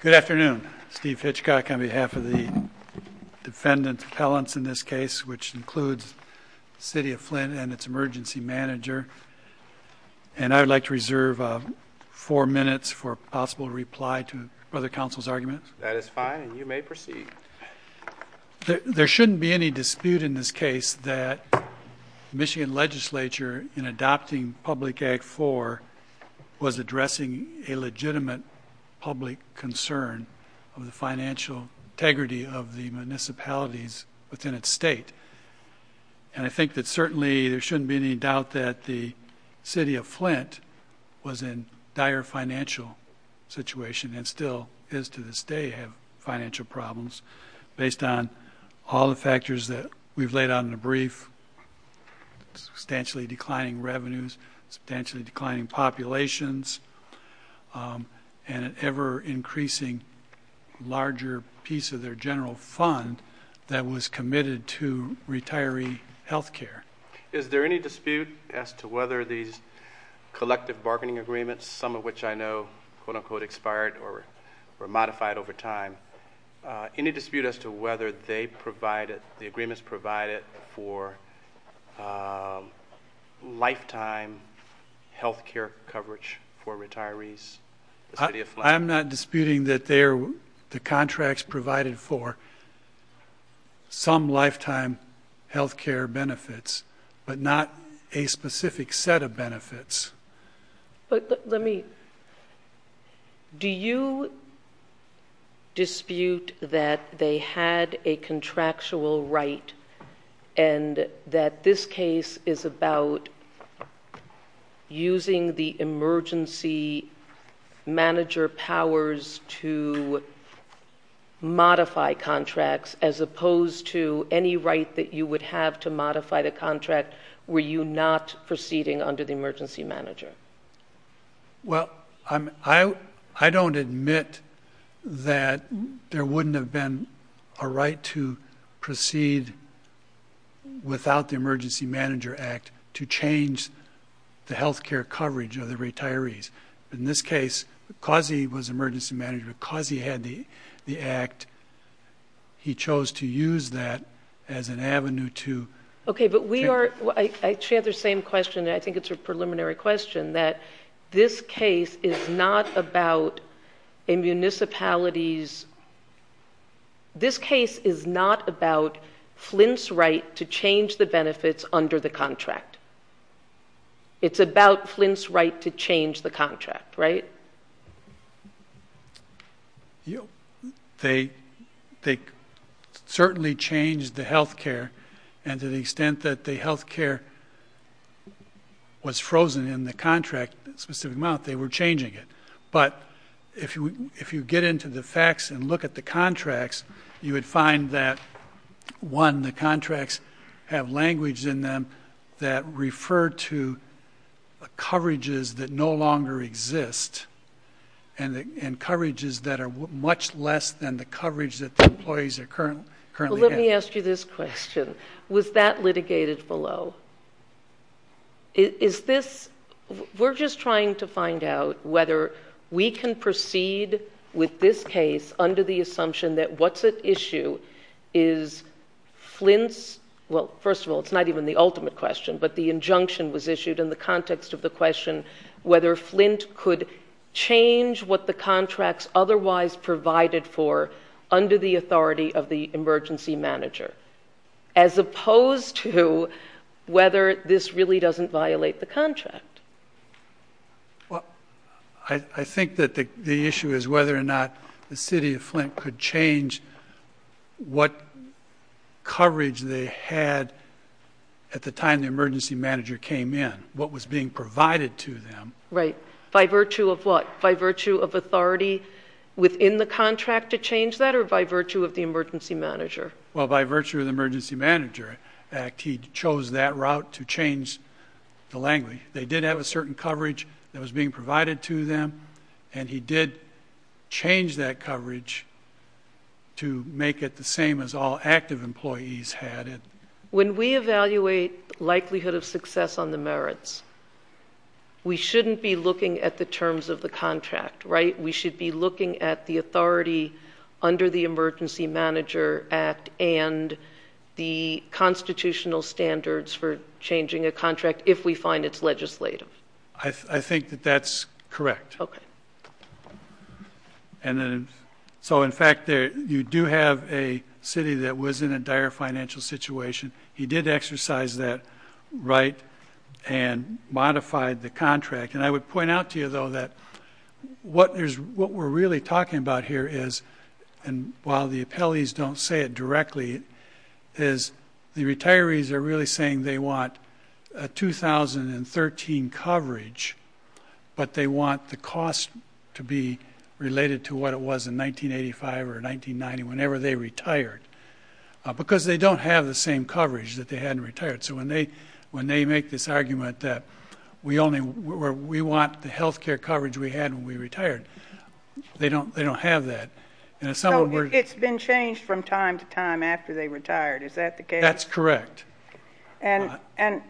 Good afternoon, Steve Hitchcock on behalf of the defendant's appellants in this case, which includes the City of Flint and its emergency manager. And I would like to reserve four minutes for a possible reply to other counsel's arguments. That is fine, and you may proceed. There shouldn't be any dispute in this case that the Michigan legislature, in adopting Public Act IV, was addressing a legitimate public concern of the financial integrity of the municipalities within its state. And I think that certainly there shouldn't be any doubt that the City of Flint was in problems based on all the factors that we've laid out in the brief, substantially declining revenues, substantially declining populations, and an ever-increasing larger piece of their general fund that was committed to retiree health care. Is there any dispute as to whether these collective bargaining agreements, some of which I know have been, quote-unquote, expired or modified over time, any dispute as to whether the agreements provided for lifetime health care coverage for retirees? I'm not disputing that the contracts provided for some lifetime health care benefits, but not a specific set of benefits. But let me... do you dispute that they had a contractual right and that this case is about using the emergency manager powers to modify contracts as opposed to any right that you would have to modify the contract were you not proceeding under the emergency manager? Well, I don't admit that there wouldn't have been a right to proceed without the Emergency Manager Act to change the health care coverage of the retirees. In this case, because he was emergency manager, because he had the Act, he chose to use that as an avenue to... Okay, but we are... she had the same question, and I think it's a preliminary question, that this case is not about a municipality's... this case is not about Flint's right to change the benefits under the contract. It's about Flint's right to change the contract, right? Well, they certainly changed the health care, and to the extent that the health care was frozen in the contract specific amount, they were changing it. But if you get into the facts and look at the contracts, you would find that, one, the and coverages that are much less than the coverage that the employees are currently getting. Well, let me ask you this question. Was that litigated below? Is this... we're just trying to find out whether we can proceed with this case under the assumption that what's at issue is Flint's... well, first of all, it's not even the ultimate question, but the injunction was issued in the context of the question whether Flint could change what the contracts otherwise provided for under the authority of the emergency manager, as opposed to whether this really doesn't violate the contract. Well, I think that the issue is whether or not the City of Flint could change what coverage they had at the time the emergency manager came in, what was being provided to them... Right. By virtue of what? By virtue of authority within the contract to change that, or by virtue of the emergency manager? Well, by virtue of the Emergency Manager Act, he chose that route to change the language. They did have a certain coverage that was being provided to them, and he did change that coverage to make it the same as all active employees had. When we evaluate likelihood of success on the merits, we shouldn't be looking at the terms of the contract, right? We should be looking at the authority under the Emergency Manager Act and the constitutional standards for changing a contract, if we find it's legislative. I think that that's correct. Okay. So, in fact, you do have a city that was in a dire financial situation. He did exercise that right and modified the contract. I would point out to you, though, that what we're really talking about here is... and while the appellees don't say it directly... is the retirees are really saying they have 2013 coverage, but they want the cost to be related to what it was in 1985 or 1990, whenever they retired. Because they don't have the same coverage that they had when they retired, so when they make this argument that we want the health care coverage we had when we retired, they don't have that. So, it's been changed from time to time after they retired. Is that the case? That's correct. And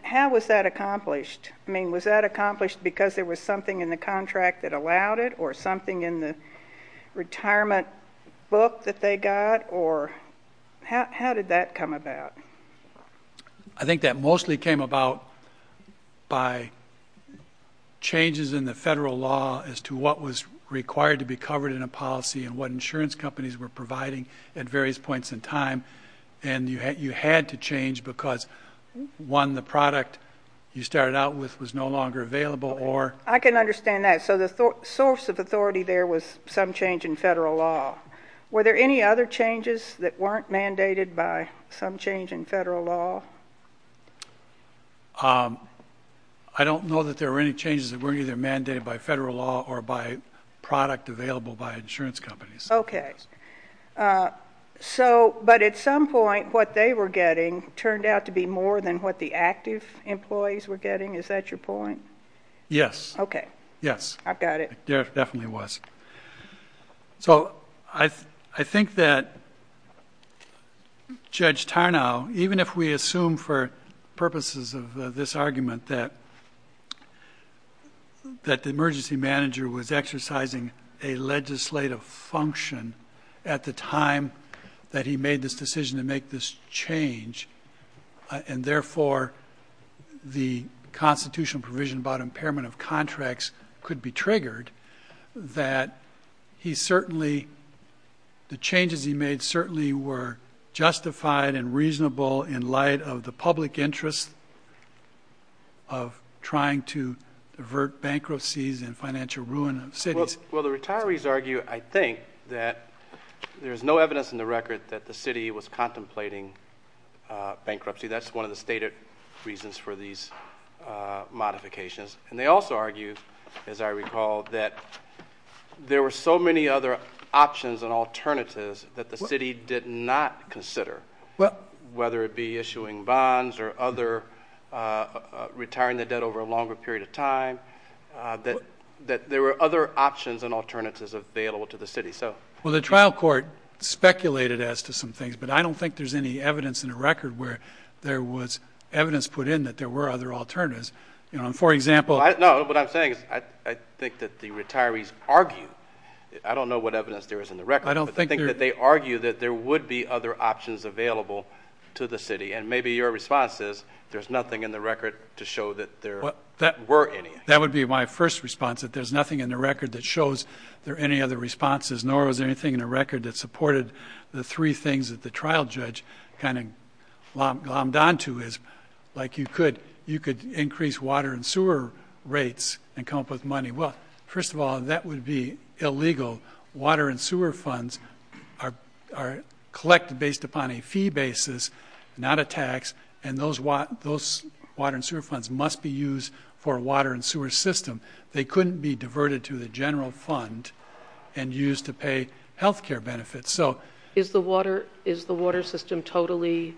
how was that accomplished? I mean, was that accomplished because there was something in the contract that allowed it or something in the retirement book that they got or... how did that come about? I think that mostly came about by changes in the federal law as to what was required to be covered in a policy and what insurance companies were providing at various points in time. And you had to change because, one, the product you started out with was no longer available or... I can understand that. So, the source of authority there was some change in federal law. Were there any other changes that weren't mandated by some change in federal law? I don't know that there were any changes that weren't either mandated by federal law or by product available by insurance companies. Okay. So, but at some point, what they were getting turned out to be more than what the active employees were getting. Is that your point? Yes. Okay. Yes. I've got it. It definitely was. So, I think that Judge Tarnow, even if we assume for purposes of this argument that the emergency manager was exercising a legislative function at the time that he made this decision to make this change and, therefore, the constitutional provision about impairment of contracts could be triggered, that he certainly... the changes he made certainly were justified and reasonable in light of the public interest of trying to divert bankruptcies and financial ruin of cities. Well, the retirees argue, I think, that there's no evidence in the record that the city was contemplating bankruptcy. That's one of the stated reasons for these modifications. And they also argue, as I recall, that there were so many other options and alternatives that the city did not consider, whether it be issuing bonds or other... retiring the debt over a longer period of time, that there were other options and alternatives available to the city. So... Well, the trial court speculated as to some things, but I don't think there's any evidence in the record where there was evidence put in that there were other alternatives. For example... No. What I'm saying is I think that the retirees argue... I don't know what evidence there is in the record. I don't think there... But I think that they argue that there would be other options available to the city. And maybe your response is there's nothing in the record to show that there were any. That would be my first response, that there's nothing in the record that shows there are any other responses, nor is there anything in the record that supported the three things that the trial judge kind of glommed onto is, like, you could increase water and sewer rates and come up with money. Well, first of all, that would be illegal. Water and sewer funds are collected based upon a fee basis, not a tax, and those water and sewer funds must be used for a water and sewer system. They couldn't be diverted to the general fund and used to pay health care benefits. So... Is the water system totally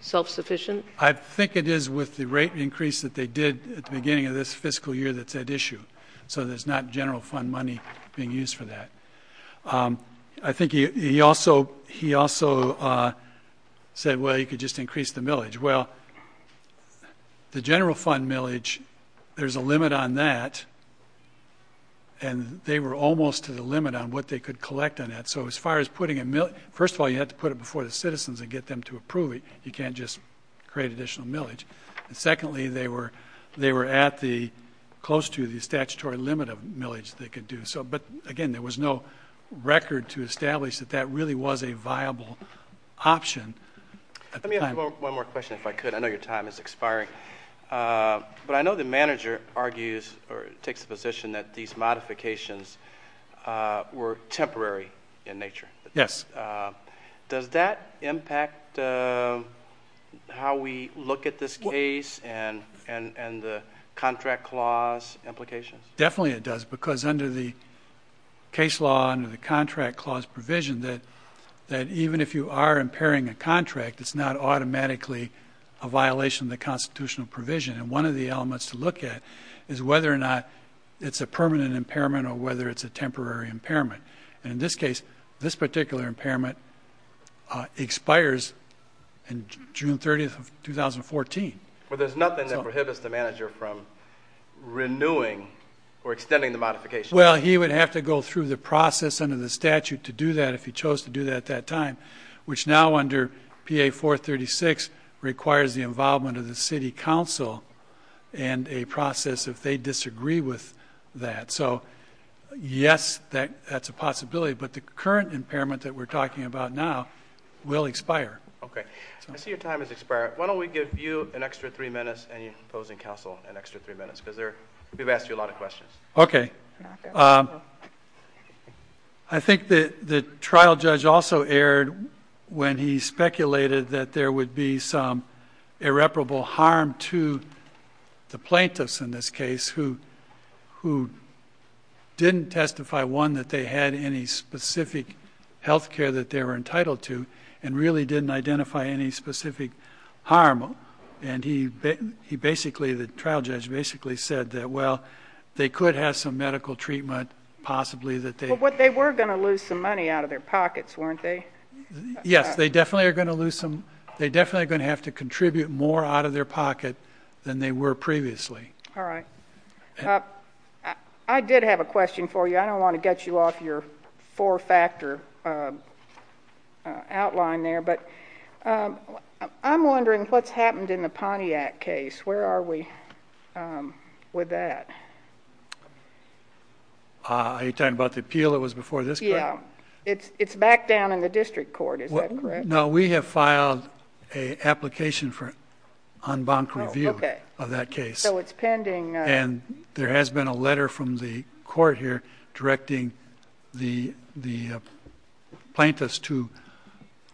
self-sufficient? I think it is with the rate increase that they did at the beginning of this fiscal year that's at issue. So there's not general fund money being used for that. I think he also said, well, you could just increase the millage. Well, the general fund millage, there's a limit on that, and they were almost to the limit on what they could collect on that. So as far as putting a millage... First of all, you have to put it before the citizens and get them to approve it. You can't just create additional millage. And secondly, they were at the... close to the statutory limit of millage they could do. But again, there was no record to establish that that really was a viable option. Let me ask one more question, if I could. I know your time is expiring. But I know the manager argues or takes the position that these modifications were temporary in nature. Yes. Does that impact how we look at this case and the contract clause implications? Definitely it does. Because under the case law, under the contract clause provision, that even if you are impairing a contract, it's not automatically a violation of the constitutional provision. And one of the elements to look at is whether or not it's a permanent impairment or whether it's a temporary impairment. And in this case, this particular impairment expires on June 30, 2014. But there's nothing that prohibits the manager from renewing or extending the modification? Well, he would have to go through the process under the statute to do that if he chose to do that at that time, which now under PA 436 requires the involvement of the city council and a process if they disagree with that. So yes, that's a possibility. But the current impairment that we're talking about now will expire. OK. I see your time has expired. Why don't we give you an extra three minutes and your opposing counsel an extra three minutes? Because we've asked you a lot of questions. OK. I think the trial judge also erred when he speculated that there would be some irreparable harm to the plaintiffs in this case who didn't testify, one, that they had any specific health care that they were entitled to and really didn't identify any specific harm. And he basically, the trial judge, basically said that, well, they could have some medical treatment possibly that they- But they were going to lose some money out of their pockets, weren't they? Yes. They definitely are going to lose some. They definitely are going to have to contribute more out of their pocket than they were previously. All right. I did have a question for you. I don't want to get you off your four-factor outline there. But I'm wondering what's happened in the Pontiac case. Where are we with that? Are you talking about the appeal that was before this court? Yeah. It's back down in the district court. Is that correct? No. We have filed an application for en banc review of that case. Oh, okay. So it's pending. And there has been a letter from the court here directing the plaintiffs to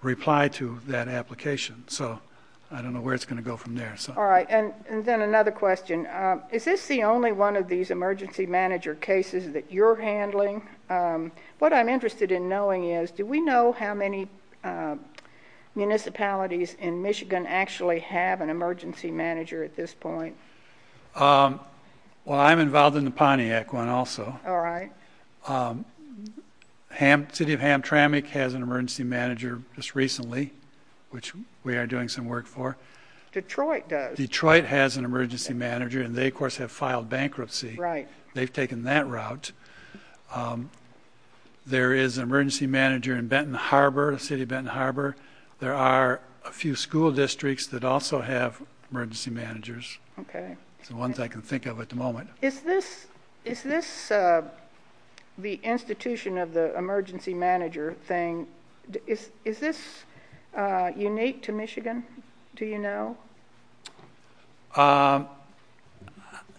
reply to that application. So I don't know where it's going to go from there. All right. And then another question. Is this the only one of these emergency manager cases that you're handling? What I'm interested in knowing is, do we know how many municipalities in Michigan actually have an emergency manager at this point? Well, I'm involved in the Pontiac one also. All right. City of Hamtramck has an emergency manager just recently, which we are doing some work for. Detroit does. Detroit has an emergency manager. And they, of course, have filed bankruptcy. Right. They've taken that route. There is an emergency manager in Benton Harbor, the city of Benton Harbor. There are a few school districts that also have emergency managers. Okay. It's the ones I can think of at the moment. Is this the institution of the emergency manager thing, is this unique to Michigan? Do you know?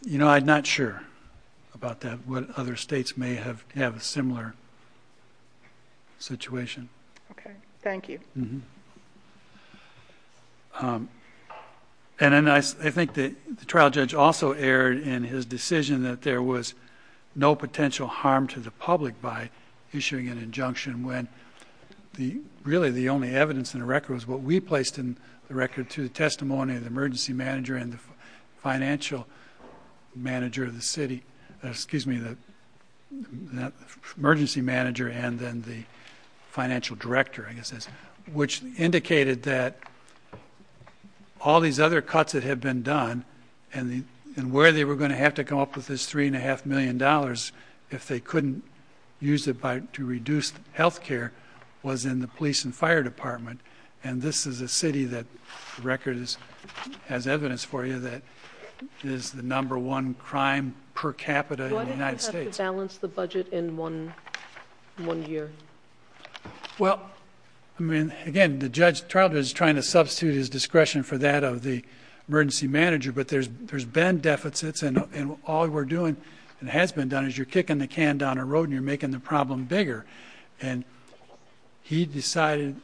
You know, I'm not sure about that. What other states may have a similar situation. Okay. Thank you. And then I think the trial judge also erred in his decision that there was no potential harm to the public by issuing an injunction when really the only evidence in the record was what we placed in the record through the testimony of the emergency manager and the financial manager of the city, excuse me, the emergency manager and then the financial director, I guess it is, which indicated that all these other cuts that have been done and where they were going to have to come up with this $3.5 million if they couldn't use it to reduce health care was in the police and fire department. And this is a city that the record has evidence for you that is the number one crime per capita in the United States. Why didn't you have to balance the budget in one year? Well, I mean, again, the judge trial judge is trying to substitute his discretion for that of the emergency manager, but there's been deficits and all we're doing and has been done is you're kicking the can down a road and you're making the problem bigger. And he decided,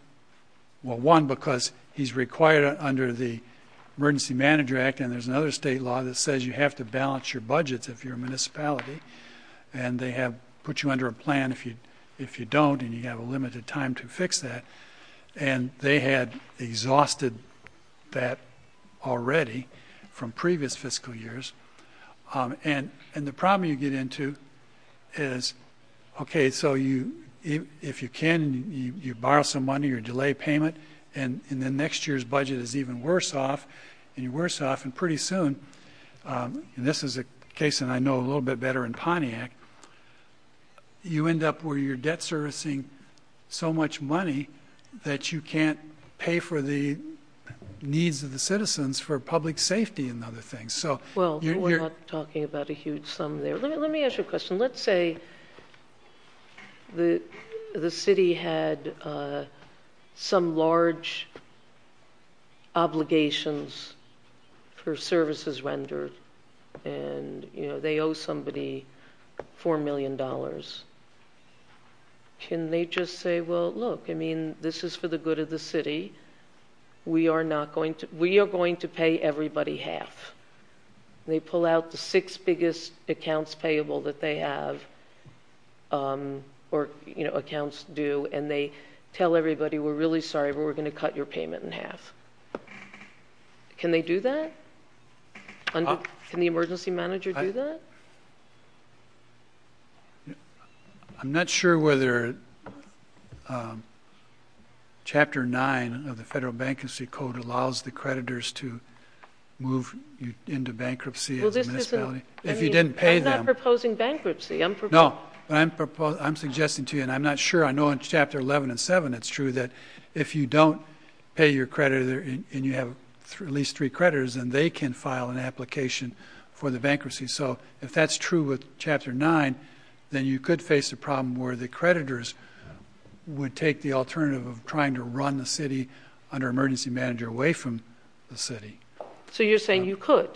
well, one, because he's required under the emergency manager act and there's another state law that says you have to balance your budgets if you're a municipality and they have put you under a plan if you don't and you have a limited time to fix that. And they had exhausted that already from previous fiscal years. And the problem you get into is, okay, so you, if you can, you borrow some money, your delay payment, and in the next year's budget is even worse off and you're worse off and pretty soon, and this is a case that I know a little bit better in Pontiac, you end up where you're debt servicing so much money that you can't pay for the needs of the citizens for public safety and other things. Well, we're not talking about a huge sum there. Let me, let me ask you a question. Let's say the, the city had some large obligations for services rendered and, you know, they owe somebody $4 million. Can they just say, well, look, I mean, this is for the good of the city. We are not going to, we are going to pay everybody half. They pull out the six biggest accounts payable that they have or, you know, accounts do, and they tell everybody, we're really sorry, but we're going to cut your payment in half. Can they do that? Can the emergency manager do that? I'm not sure whether Chapter 9 of the Federal Bankruptcy Code allows the creditors to move into bankruptcy as a municipality, if you didn't pay them. I'm not proposing bankruptcy. No, I'm proposing, I'm suggesting to you, and I'm not sure, I know in Chapter 11 and 7, it's true that if you don't pay your creditor and you have at least three creditors and they can file an application for the bankruptcy. So if that's true with Chapter 9, then you could face a problem where the creditors would take the alternative of trying to run the city under emergency manager away from the city. So you're saying you could.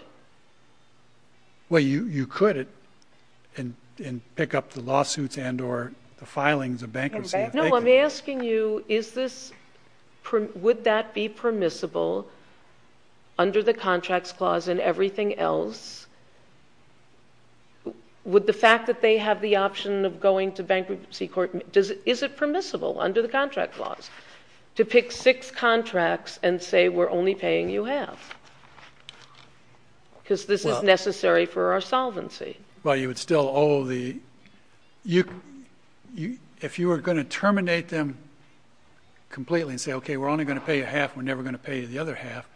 Well, you could and pick up the lawsuits and or the filings of bankruptcy. No, I'm asking you, is this, would that be permissible under the contracts clause and everything else, would the fact that they have the option of going to bankruptcy court, is it permissible under the contract clause to pick six contracts and say we're only paying you half because this is necessary for our solvency? Well, you would still owe the, if you were going to terminate them completely and say, okay, we're only going to pay you half, we're never going to pay you the other half,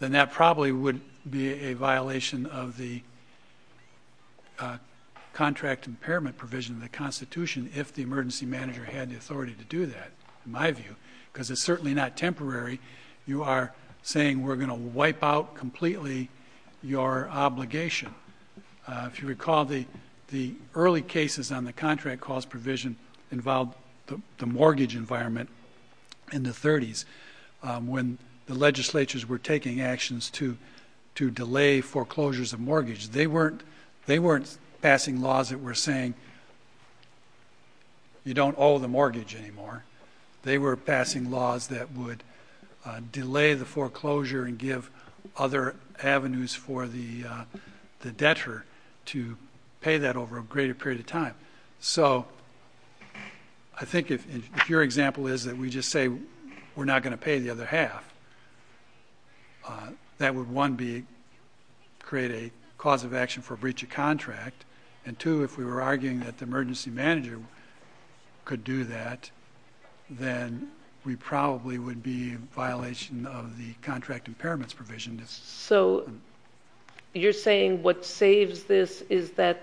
then that probably would be a violation of the contract impairment provision of the constitution. If the emergency manager had the authority to do that, in my view, because it's certainly not temporary. You are saying we're going to wipe out completely your obligation. If you recall the, the early cases on the contract clause provision involved the mortgage environment in the thirties. Um, when the legislatures were taking actions to, to delay foreclosures of mortgage, they weren't, they weren't passing laws that were saying you don't owe the mortgage anymore. They were passing laws that would delay the foreclosure and give other avenues for the, uh, the debtor to pay that over a greater period of time. So I think if, if your example is that we just say we're not going to pay the other half, uh, that would one be create a cause of action for a breach of contract. And two, if we were arguing that the emergency manager could do that, then we probably would be violation of the contract impairments provision. So you're saying what saves this is that,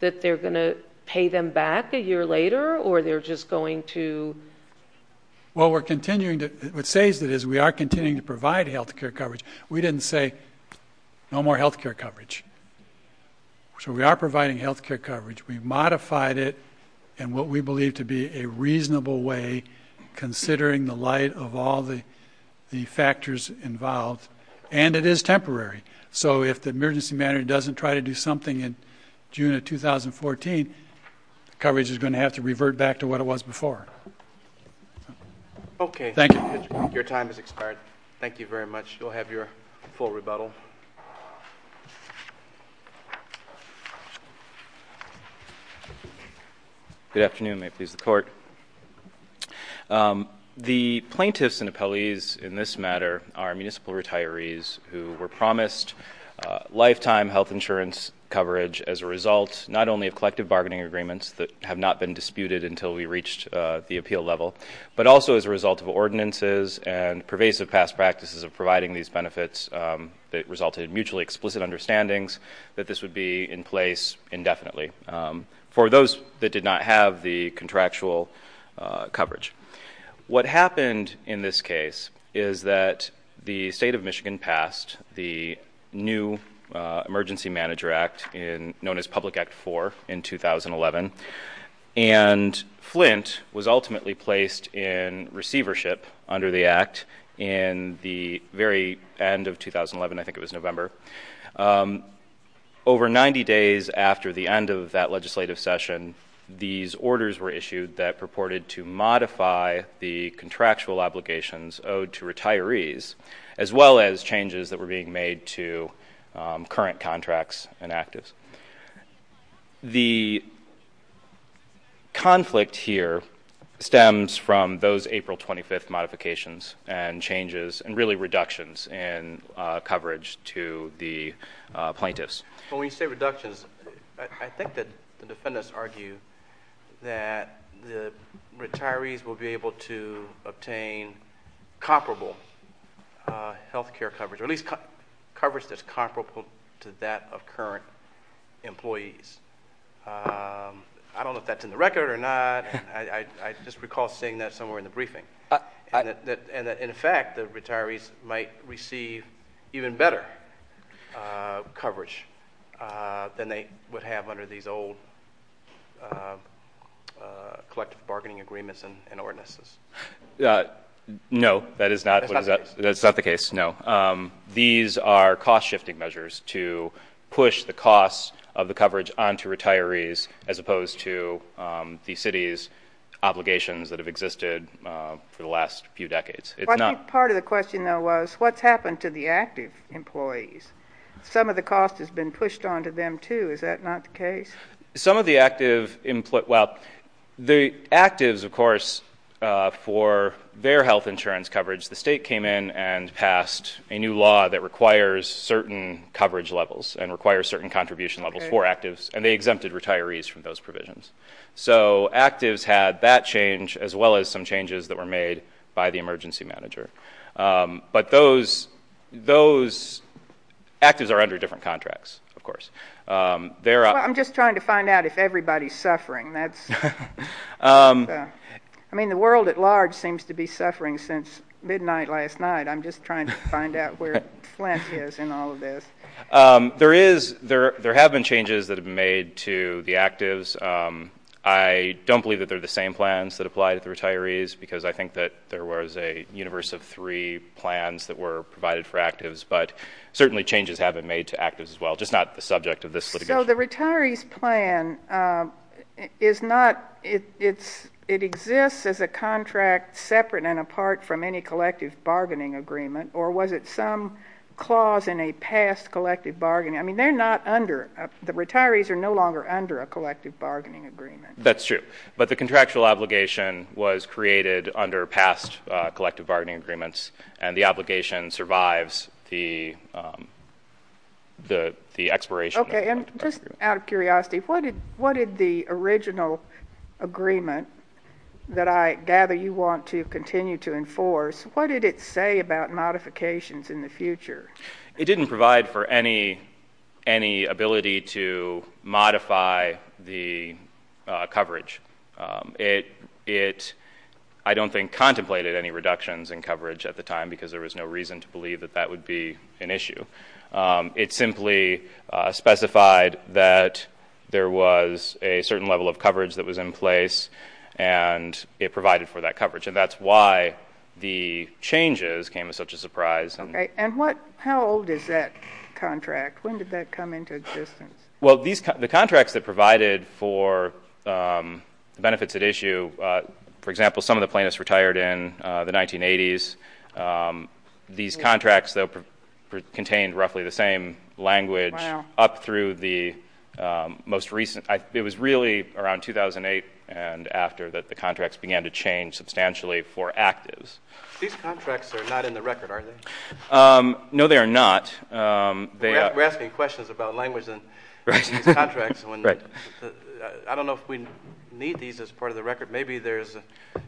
that they're going to pay them back a year later, or they're just going to. Well, we're continuing to, what saves that is we are continuing to provide healthcare coverage. We didn't say no more healthcare coverage. So we are providing healthcare coverage. We modified it. And what we believe to be a reasonable way, considering the light of all the, the involved, and it is temporary. So if the emergency manager doesn't try to do something in June of 2014, coverage is going to have to revert back to what it was before. Okay. Thank you. Your time is expired. Thank you very much. We'll have your full rebuttal. Good afternoon. May it please the court. Um, the plaintiffs and appellees in this matter are municipal retirees who were promised a lifetime health insurance coverage as a result, not only of collective bargaining agreements that have not been disputed until we reached, uh, the appeal level, but also as a result of ordinances and pervasive past practices of providing these benefits, um, that resulted in mutually explicit understandings that this would be in place indefinitely. Um, for those that did not have the contractual, uh, coverage, what happened in this case is that the state of Michigan passed the new, uh, emergency manager act in known as public act four in 2011 and Flint was ultimately placed in receivership under the act in the very end of 2011, I think it was November. Um, over 90 days after the end of that legislative session, these orders were issued that purported to modify the contractual obligations owed to retirees, as well as changes that were being made to, um, current contracts and actives. The conflict here stems from those April 25th modifications and changes and really the, uh, plaintiffs. When we say reductions, I think that the defendants argue that the retirees will be able to obtain comparable, uh, healthcare coverage, or at least coverage that's comparable to that of current employees. Um, I don't know if that's in the record or not. I just recall saying that somewhere in the briefing and that in fact, the receive even better, uh, coverage, uh, than they would have under these old, uh, uh, collective bargaining agreements and ordinances. Uh, no, that is not, that's not the case. No. Um, these are cost shifting measures to push the costs of the coverage onto retirees, as opposed to, um, the city's obligations that have existed, uh, for the last few decades. Part of the question though, was what's happened to the active employees? Some of the cost has been pushed onto them too. Is that not the case? Some of the active input? Well, the actives of course, uh, for their health insurance coverage, the state came in and passed a new law that requires certain coverage levels and requires certain contribution levels for actives and they exempted retirees from those provisions. So actives had that change as well as some changes that were made by the emergency manager. Um, but those, those actives are under different contracts, of course. Um, there are, I'm just trying to find out if everybody's suffering. That's, um, I mean, the world at large seems to be suffering since midnight last night. I'm just trying to find out where Flint is in all of this. Um, there is, there, there have been changes that have been made to the actives. Um, I don't believe that they're the same plans that apply to the retirees because I think that there was a universe of three plans that were provided for actives, but certainly changes have been made to actives as well. Just not the subject of this. So the retirees plan, um, is not, it's, it exists as a contract separate and apart from any collective bargaining agreement, or was it some clause in a past collective bargaining? I mean, they're not under the retirees are no longer under a collective bargaining agreement. That's true. But the contractual obligation was created under past, uh, collective bargaining agreements and the obligation survives the, um, the, the expiration. Okay. And just out of curiosity, what did, what did the original agreement that I gather you want to continue to enforce, what did it say about modifications in the future? It didn't provide for any, any ability to modify the coverage. Um, it, it, I don't think contemplated any reductions in coverage at the time because there was no reason to believe that that would be an issue. Um, it simply, uh, specified that there was a certain level of coverage that was in place and it provided for that coverage. And that's why the changes came as such a surprise. Okay. And what, how old is that contract? When did that come into existence? Well, these, the contracts that provided for, um, the benefits at issue, uh, for example, some of the plaintiffs retired in, uh, the 1980s, um, these contracts that contained roughly the same language up through the, um, most recent, it was really around 2008 and after that the contracts began to change substantially for actives. These contracts are not in the record, are they? Um, no, they are not. Um, they are asking questions about language and contracts. And when I don't know if we need these as part of the record, maybe there's,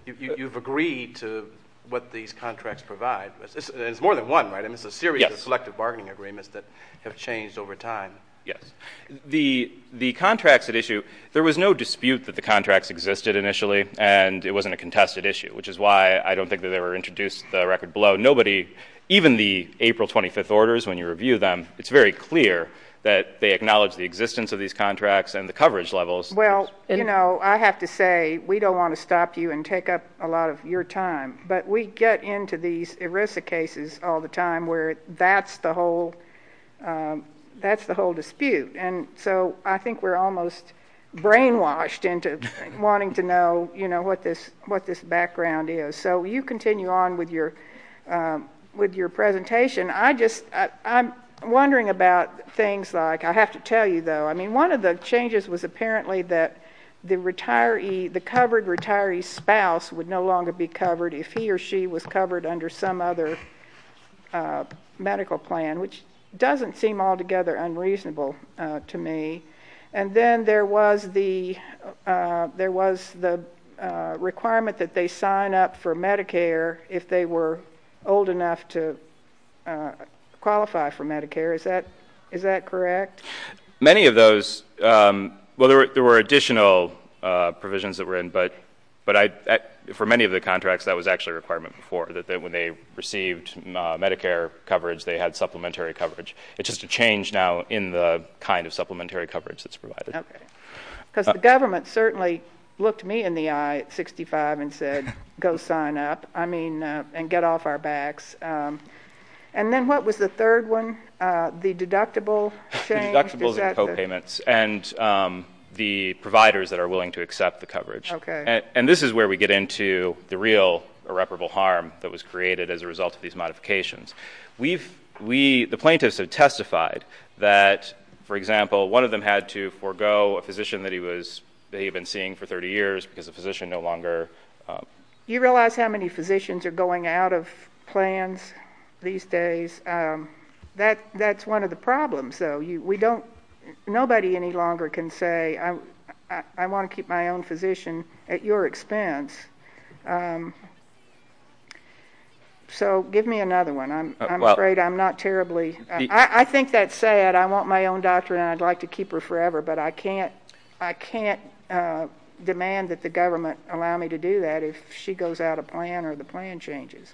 you've agreed to what these contracts provide. It's more than one, right? I mean, it's a series of selective bargaining agreements that have changed over time. Yes. The, the contracts at issue, there was no dispute that the contracts existed initially, and it wasn't a contested issue, which is why I don't think that they were introduced the record below. Even the April 25th orders, when you review them, it's very clear that they acknowledge the existence of these contracts and the coverage levels. Well, you know, I have to say, we don't want to stop you and take up a lot of your time, but we get into these ERISA cases all the time where that's the whole, um, that's the whole dispute. And so I think we're almost brainwashed into wanting to know, you know, what this, what this background is. So you continue on with your, um, with your presentation. I just, I'm wondering about things like, I have to tell you though, I mean, one of the changes was apparently that the retiree, the covered retiree spouse would no longer be covered if he or she was covered under some other medical plan, which doesn't seem altogether unreasonable to me. And then there was the, uh, there was the, uh, requirement that they sign up for Medicare if they were old enough to, uh, qualify for Medicare. Is that, is that correct? Many of those, um, well, there were, there were additional, uh, provisions that were in, but, but I, for many of the contracts that was actually a requirement before that, that when they received Medicare coverage, they had supplementary coverage. It's just a change now in the kind of supplementary coverage that's provided. Because the government certainly looked me in the eye at 65 and said, go sign up. I mean, uh, and get off our backs. Um, and then what was the third one? Uh, the deductible, deductibles and copayments and, um, the providers that are willing to accept the coverage. And this is where we get into the real irreparable harm that was created as a result of these modifications. We've, we, the plaintiffs have testified that, for example, one of them had to forgo a physician that he was, that he had been seeing for 30 years because the physician no longer, um, you realize how many physicians are going out of plans these days? Um, that, that's one of the problems though. You, we don't, nobody any longer can say, I, I want to keep my own physician at your expense. Um, so give me another one. I'm afraid I'm not terribly, I think that said, I want my own doctor and I'd like to keep her forever, but I can't, I can't, uh, demand that the government allow me to do that if she goes out of plan or the plan changes.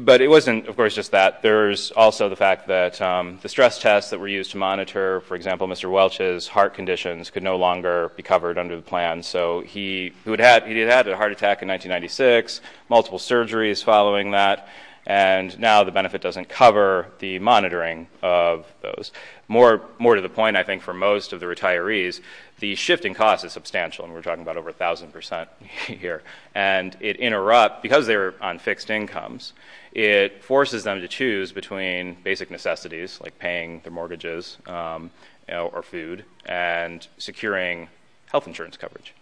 But it wasn't, of course, just that there's also the fact that, um, the stress tests that were used to monitor, for example, Mr. Welch's heart conditions could no longer be covered under the plan. So he would have, he'd had a heart attack in 1996, multiple surgeries following that, and now the benefit doesn't cover the monitoring of those. More, more to the point, I think for most of the retirees, the shifting cost is substantial and we're talking about over a thousand percent here. And it interrupt because they're on fixed incomes, it forces them to choose between basic necessities like paying their mortgages, um, you know, or food and securing health insurance coverage.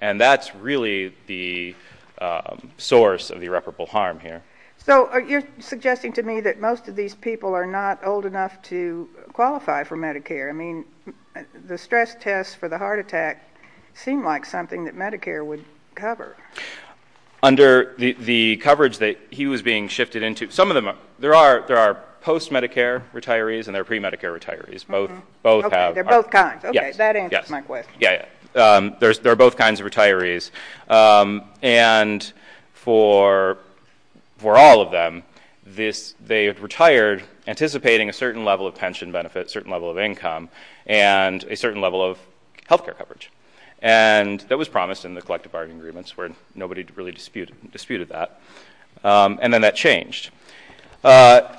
And that's really the, um, source of the irreparable harm here. So you're suggesting to me that most of these people are not old enough to qualify for Medicare. I mean, the stress tests for the heart attack seem like something that Medicare would cover. Under the coverage that he was being shifted into. Some of them are, there are, there are post-Medicare retirees and they're pre-Medicare retirees. Both, both have. They're both kinds. Okay. That answers my question. Yeah. Um, there's, there are both kinds of retirees. Um, and for, for all of them, this, they had retired anticipating a certain level of pension benefits, certain level of income, and a certain level of healthcare coverage, and that was promised in the collective bargaining agreements where nobody really disputed, disputed that, um, and then that changed. Uh,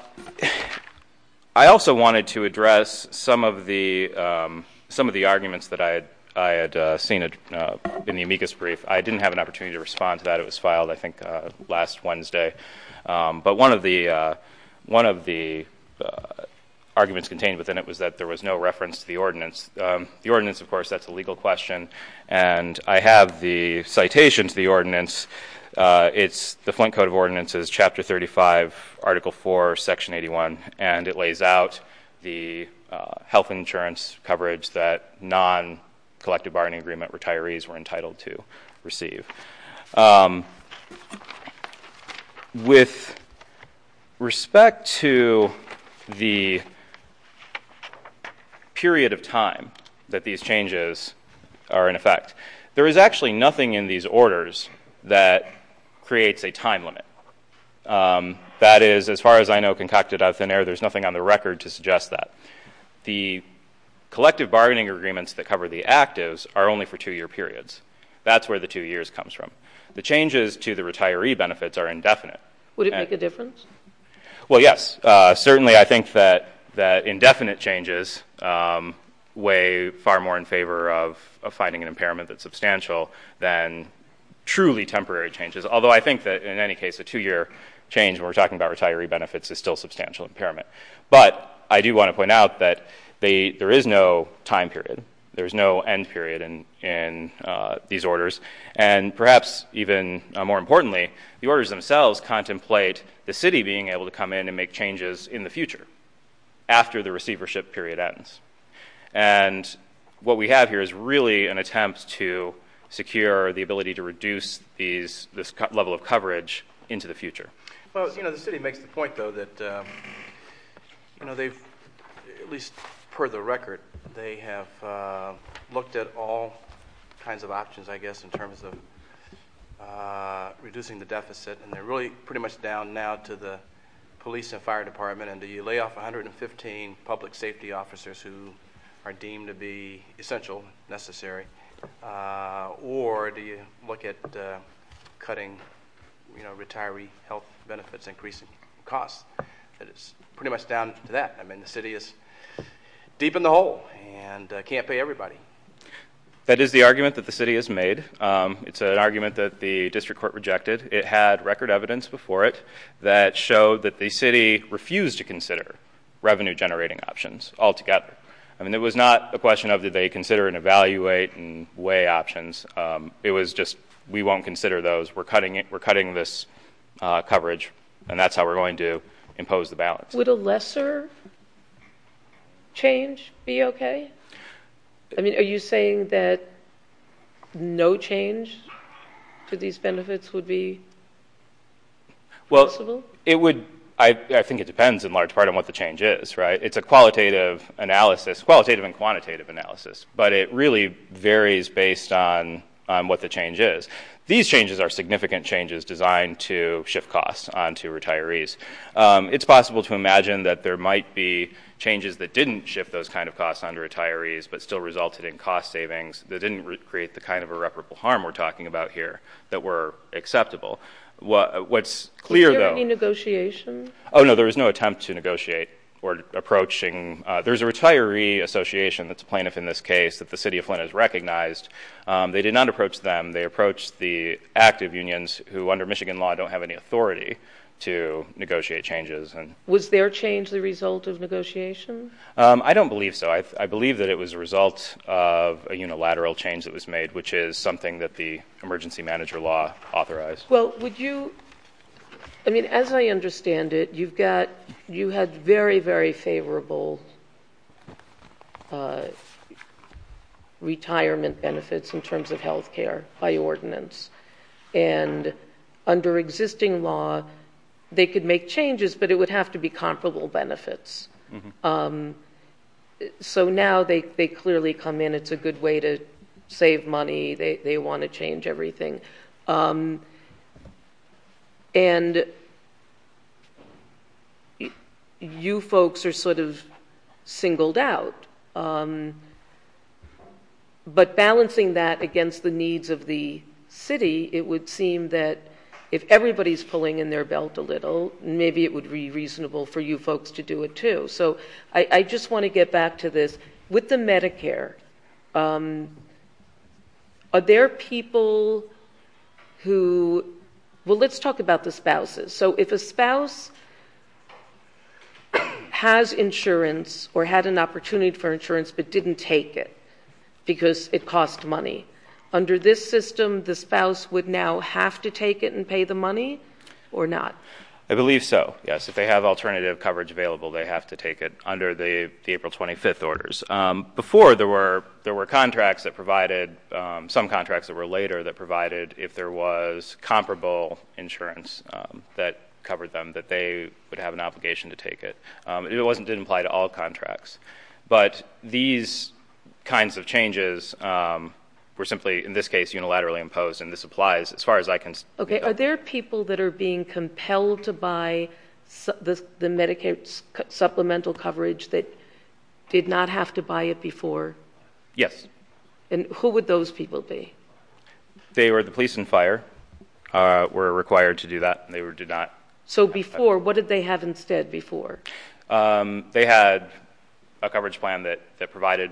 I also wanted to address some of the, um, some of the arguments that I had, I had, uh, seen, uh, in the amicus brief. I didn't have an opportunity to respond to that. It was filed, I think, uh, last Wednesday. Um, but one of the, uh, one of the, uh, arguments contained within it was that there was no reference to the ordinance. Um, the ordinance, of course, that's a legal question. And I have the citation to the ordinance. Uh, it's the Flint Code of Ordinances, chapter 35, article four, section 81. And it lays out the, uh, health insurance coverage that non-collective bargaining agreement retirees were entitled to receive. Um, with respect to the period of time that these changes are in effect, there is actually nothing in these orders that creates a time limit. Um, that is, as far as I know, concocted out of thin air, there's nothing on the record to suggest that. The collective bargaining agreements that cover the actives are only for two year periods. That's where the two years comes from. The changes to the retiree benefits are indefinite. Would it make a difference? Well, yes. Uh, certainly I think that, that indefinite changes, um, weigh far more in favor of, of finding an impairment that's substantial than truly temporary changes, although I think that in any case, a two year change when we're talking about retiree benefits is still substantial impairment, but I do want to point out that they, there is no time period, there's no end period. And, and, uh, these orders and perhaps even more importantly, the orders themselves contemplate the city being able to come in and make changes in the future after the receivership period ends. And what we have here is really an attempt to secure the ability to this level of coverage into the future. Well, you know, the city makes the point though, that, um, you know, they've at least per the record, they have, uh, looked at all kinds of options, I guess, in terms of, uh, reducing the deficit and they're really pretty much down now to the police and fire department. And do you lay off 115 public safety officers who are deemed to be essential, necessary? Uh, or do you look at, uh, cutting, you know, retiree health benefits, increasing costs that it's pretty much down to that. I mean, the city is deep in the hole and can't pay everybody. That is the argument that the city has made. Um, it's an argument that the district court rejected. It had record evidence before it that showed that the city refused to consider revenue generating options altogether. I mean, it was not a question of, did they consider and evaluate and weigh options? Um, it was just, we won't consider those. We're cutting it. We're cutting this, uh, coverage and that's how we're going to impose the balance. Would a lesser change be okay? I mean, are you saying that no change to these benefits would be? Well, it would, I think it depends in large part on what the change is, right? It's a qualitative analysis, qualitative and quantitative analysis, but it really varies based on, um, what the change is. These changes are significant changes designed to shift costs onto retirees. Um, it's possible to imagine that there might be changes that didn't shift those kinds of costs under retirees, but still resulted in cost savings that didn't create the kind of irreparable harm we're talking about here that were acceptable. What's clear though, oh no, there was no attempt to negotiate or approaching, uh, there's a retiree association that's plaintiff in this case that the city of Flint has recognized. Um, they did not approach them. They approached the active unions who under Michigan law don't have any authority to negotiate changes. And was there changed the result of negotiation? Um, I don't believe so. I, I believe that it was a result of a unilateral change that was made, which is something that the emergency manager law authorized. Well, would you, I mean, as I understand it, you've got, you had very, very favorable, uh, retirement benefits in terms of healthcare by ordinance and under existing law, they could make changes, but it would have to be comparable benefits. Um, so now they, they clearly come in. It's a good way to save money. They, they want to change everything. Um, and you folks are sort of singled out. Um, but balancing that against the needs of the city, it would seem that if everybody's pulling in their belt a little, maybe it would be reasonable for you folks to do it too. So I just want to get back to this with the Medicare. Um, are there people who, well, let's talk about the spouses. So if a spouse has insurance or had an opportunity for insurance, but didn't take it because it costs money under this system, the spouse would now have to take it and pay the money or not? I believe so. Yes. If they have alternative coverage available, they have to take it under the April 25th orders. Um, before there were, there were contracts that provided, um, some contracts that were later that provided, if there was comparable insurance, um, that covered them, that they would have an obligation to take it. Um, it wasn't, didn't apply to all contracts, but these kinds of changes, um, were simply in this case, unilaterally imposed, and this applies as far as I can see. Okay. Are there people that are being compelled to buy the Medicaid supplemental coverage that did not have to buy it before? Yes. And who would those people be? They were the police and fire, uh, were required to do that. And they were, did not. So before, what did they have instead before? Um, they had a coverage plan that, that provided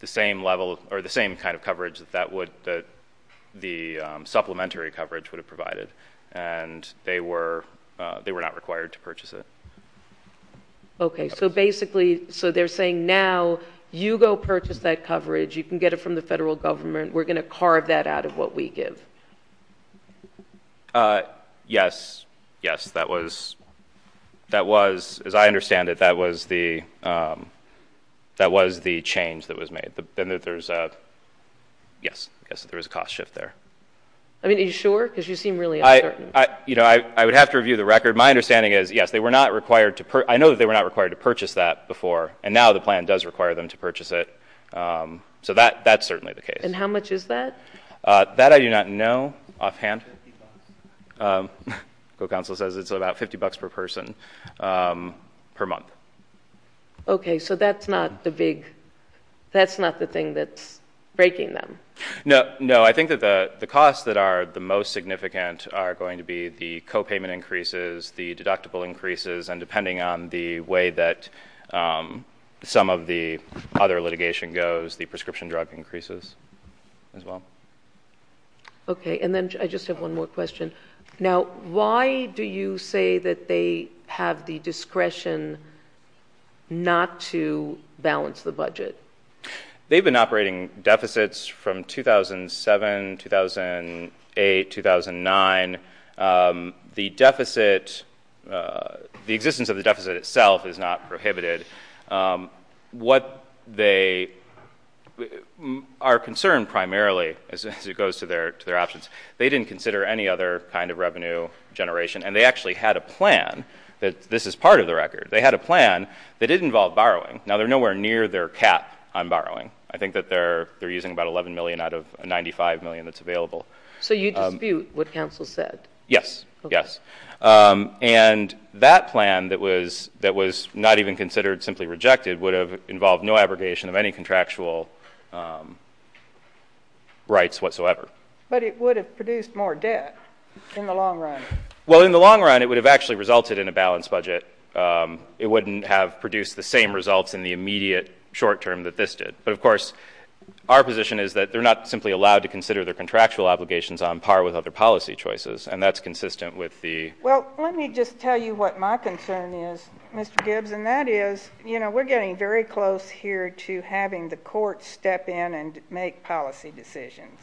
the same level or the same kind of coverage that that would, that the, um, supplementary coverage would have provided and they were, uh, they were not required to purchase it. Okay. So basically, so they're saying now you go purchase that coverage. You can get it from the federal government. We're going to carve that out of what we give. Uh, yes. Yes. That was, that was, as I understand it, that was the, um, that was the change that was made then that there's a, yes, I guess there was a cost shift there. I mean, are you sure? Cause you seem really, I, you know, I, I would have to review the record. My understanding is yes, they were not required to, I know that they were not required to purchase that before and now the plan does require them to purchase it. Um, so that, that's certainly the case. And how much is that? Uh, that I do not know offhand. Um, go council says it's about 50 bucks per person, um, per month. Okay. So that's not the big, that's not the thing that's breaking them. No, no. I think that the costs that are the most significant are going to be the Um, some of the other litigation goes, the prescription drug increases as well. Okay. And then I just have one more question. Now, why do you say that they have the discretion not to balance the budget? They've been operating deficits from 2007, 2008, 2009. Um, the deficit, uh, the existence of the deficit itself is not prohibited. Um, what they are concerned primarily as it goes to their, to their options, they didn't consider any other kind of revenue generation. And they actually had a plan that this is part of the record. They had a plan that didn't involve borrowing. Now they're nowhere near their cap on borrowing. I think that they're, they're using about 11 million out of 95 million that's available. So you dispute what counsel said? Yes. Yes. Um, and that plan that was, that was not even considered simply rejected would have involved no abrogation of any contractual, um, rights whatsoever. But it would have produced more debt in the long run. Well, in the long run, it would have actually resulted in a balanced budget. Um, it wouldn't have produced the same results in the immediate short term that this did, but of course our position is that they're not simply allowed to have obligations on par with other policy choices. And that's consistent with the. Well, let me just tell you what my concern is, Mr. Gibbs. And that is, you know, we're getting very close here to having the court step in and make policy decisions,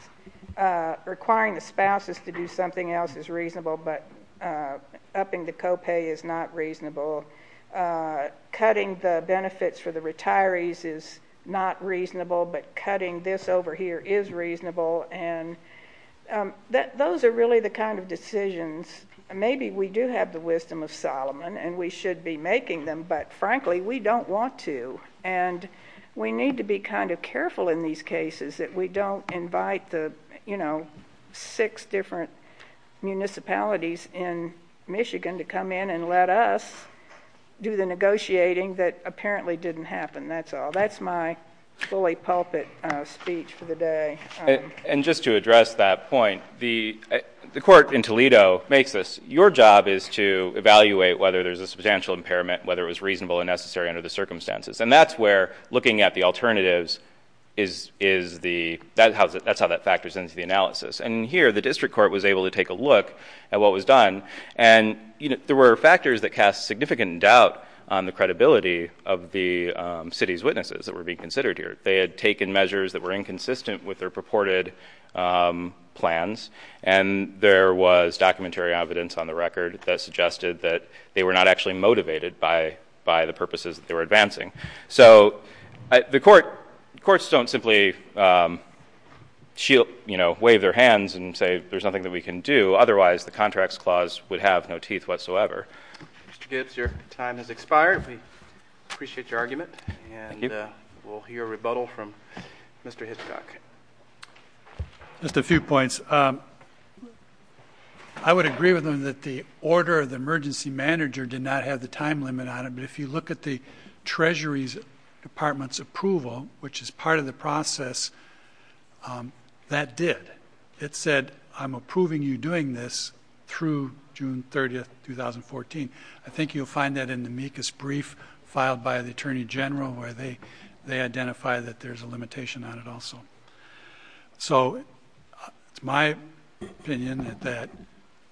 uh, requiring the spouses to do something else is reasonable, but, uh, upping the copay is not reasonable. Uh, cutting the benefits for the retirees is not reasonable, but cutting this over here is reasonable and, um, that those are really the kind of decisions. Maybe we do have the wisdom of Solomon and we should be making them, but frankly, we don't want to, and we need to be kind of careful in these cases that we don't invite the, you know, six different municipalities in Michigan to come in and let us do the negotiating that apparently didn't happen. That's all. Fully pulpit, uh, speech for the day. And just to address that point, the, the court in Toledo makes this, your job is to evaluate whether there's a substantial impairment, whether it was reasonable and necessary under the circumstances. And that's where looking at the alternatives is, is the, that's how that factors into the analysis. And here the district court was able to take a look at what was done. And there were factors that cast significant doubt on the credibility of the, um, city's witnesses that were being considered here. They had taken measures that were inconsistent with their purported, um, plans, and there was documentary evidence on the record that suggested that they were not actually motivated by, by the purposes that they were advancing. So the court, courts don't simply, um, shield, you know, wave their hands and say, there's nothing that we can do. Otherwise the contracts clause would have no teeth whatsoever. Mr. Gibbs, your time has expired. Appreciate your argument and we'll hear a rebuttal from Mr. Hitchcock. Just a few points. Um, I would agree with them that the order of the emergency manager did not have the time limit on it. But if you look at the treasury's department's approval, which is part of the process, um, that did, it said, I'm approving you doing this through June 30th, 2014. I think you'll find that in the amicus brief filed by the attorney general, where they, they identify that there's a limitation on it also. So it's my opinion that, that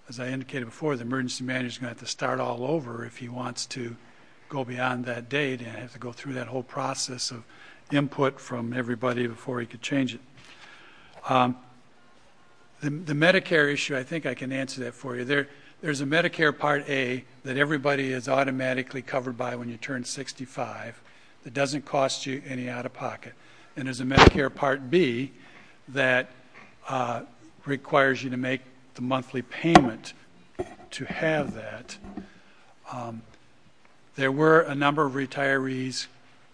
as I indicated before, the emergency manager is going to have to start all over if he wants to go beyond that date. And I have to go through that whole process of input from everybody before he could change it. Um, the, the Medicare issue, I think I can answer that for you. There's a Medicare part A that everybody is automatically covered by when you turn 65, that doesn't cost you any out of pocket. And there's a Medicare part B that, uh, requires you to make the monthly payment to have that. Um, there were a number of retirees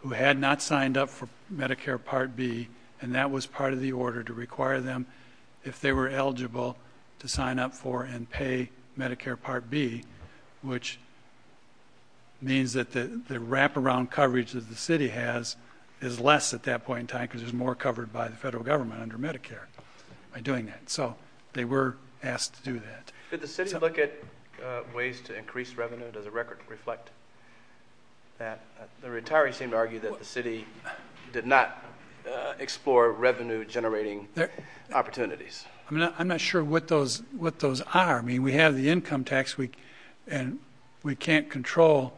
who had not signed up for Medicare part B, and that was part of the order to require them if they were Medicare part B, which means that the wraparound coverage that the city has is less at that point in time, because there's more covered by the federal government under Medicare by doing that. So they were asked to do that. Did the city look at, uh, ways to increase revenue? Does the record reflect that the retirees seem to argue that the city did not, uh, explore revenue generating opportunities? I mean, I'm not sure what those, what those are. I mean, we have the income tax week and we can't control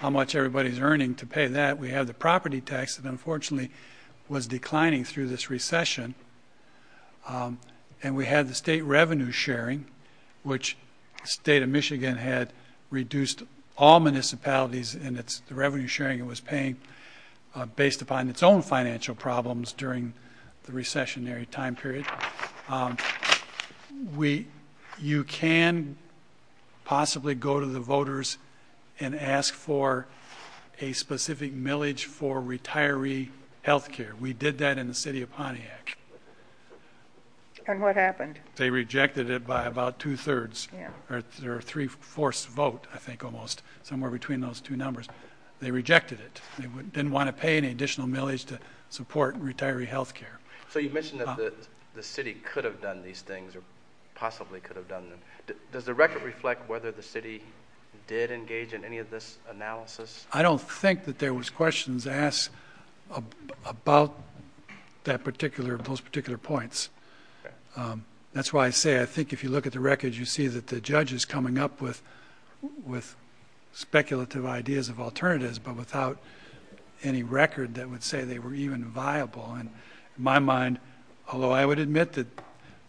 how much everybody's earning to pay that. We have the property tax that unfortunately was declining through this recession, um, and we had the state revenue sharing, which state of Michigan had reduced all municipalities and it's the revenue sharing it was paying, uh, based upon its own financial problems during the recessionary time period. Um, we, you can possibly go to the voters and ask for a specific millage for retiree healthcare. We did that in the city of Pontiac. And what happened? They rejected it by about two thirds or three fourths vote. I think almost somewhere between those two numbers, they rejected it. They didn't want to pay any additional millage to support retiree healthcare. So you mentioned that the city could have done these things or possibly could have done them. Does the record reflect whether the city did engage in any of this analysis? I don't think that there was questions asked about that particular, those particular points. Um, that's why I say, I think if you look at the records, you see that the judges coming up with, with speculative ideas of alternatives, but without any record that would say they were even viable. And my mind, although I would admit that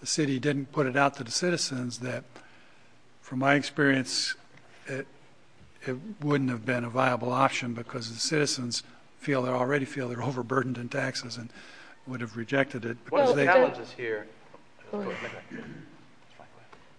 the city didn't put it out to the citizens, that from my experience, it, it wouldn't have been a viable option because the citizens feel they're already feel they're overburdened in taxes and would have rejected it.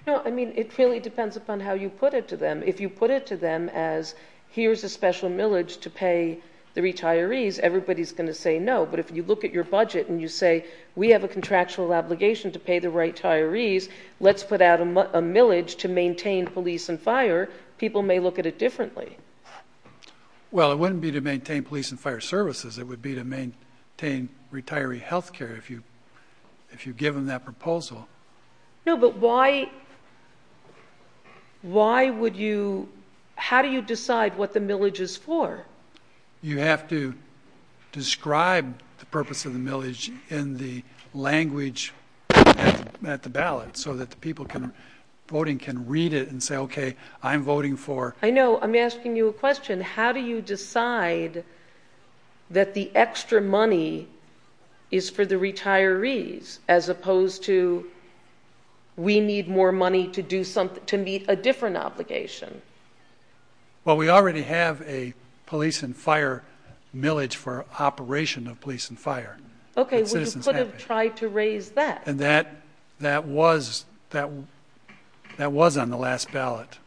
No, I mean, it really depends upon how you put it to them. If you put it to them as here's a special millage to pay the retirees, everybody's going to say, no, but if you look at your budget and you say, we have a contractual obligation to pay the retirees, let's put out a millage to maintain police and fire, people may look at it differently. Well, it wouldn't be to maintain police and fire services. It would be to maintain retiree healthcare. If you, if you give them that proposal. No, but why, why would you, how do you decide what the millage is for? You have to describe the purpose of the millage in the language at the ballot so that the people can voting can read it and say, okay, I'm voting for. I know. I'm asking you a question. How do you decide that the extra money is for the retirees as opposed to we need more money to do something, to meet a different obligation? Well, we already have a police and fire millage for operation of police and fire. Okay. We could have tried to raise that. And that, that was, that, that was on the last ballot.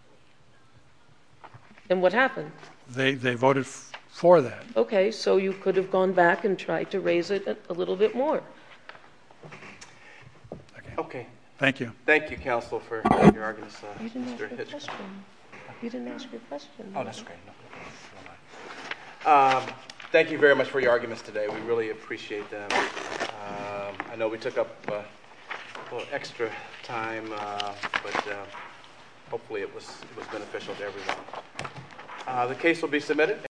And what happened? They, they voted for that. Okay. So you could have gone back and tried to raise it a little bit more. Okay. Thank you. Thank you, counsel for your argument. You didn't ask your question. You didn't ask your question. Oh, that's great. Um, thank you very much for your arguments today. We really appreciate them. Um, I know we took up a little extra time, uh, but, uh, hopefully it was, it was beneficial to everyone. Uh, the case will be submitted.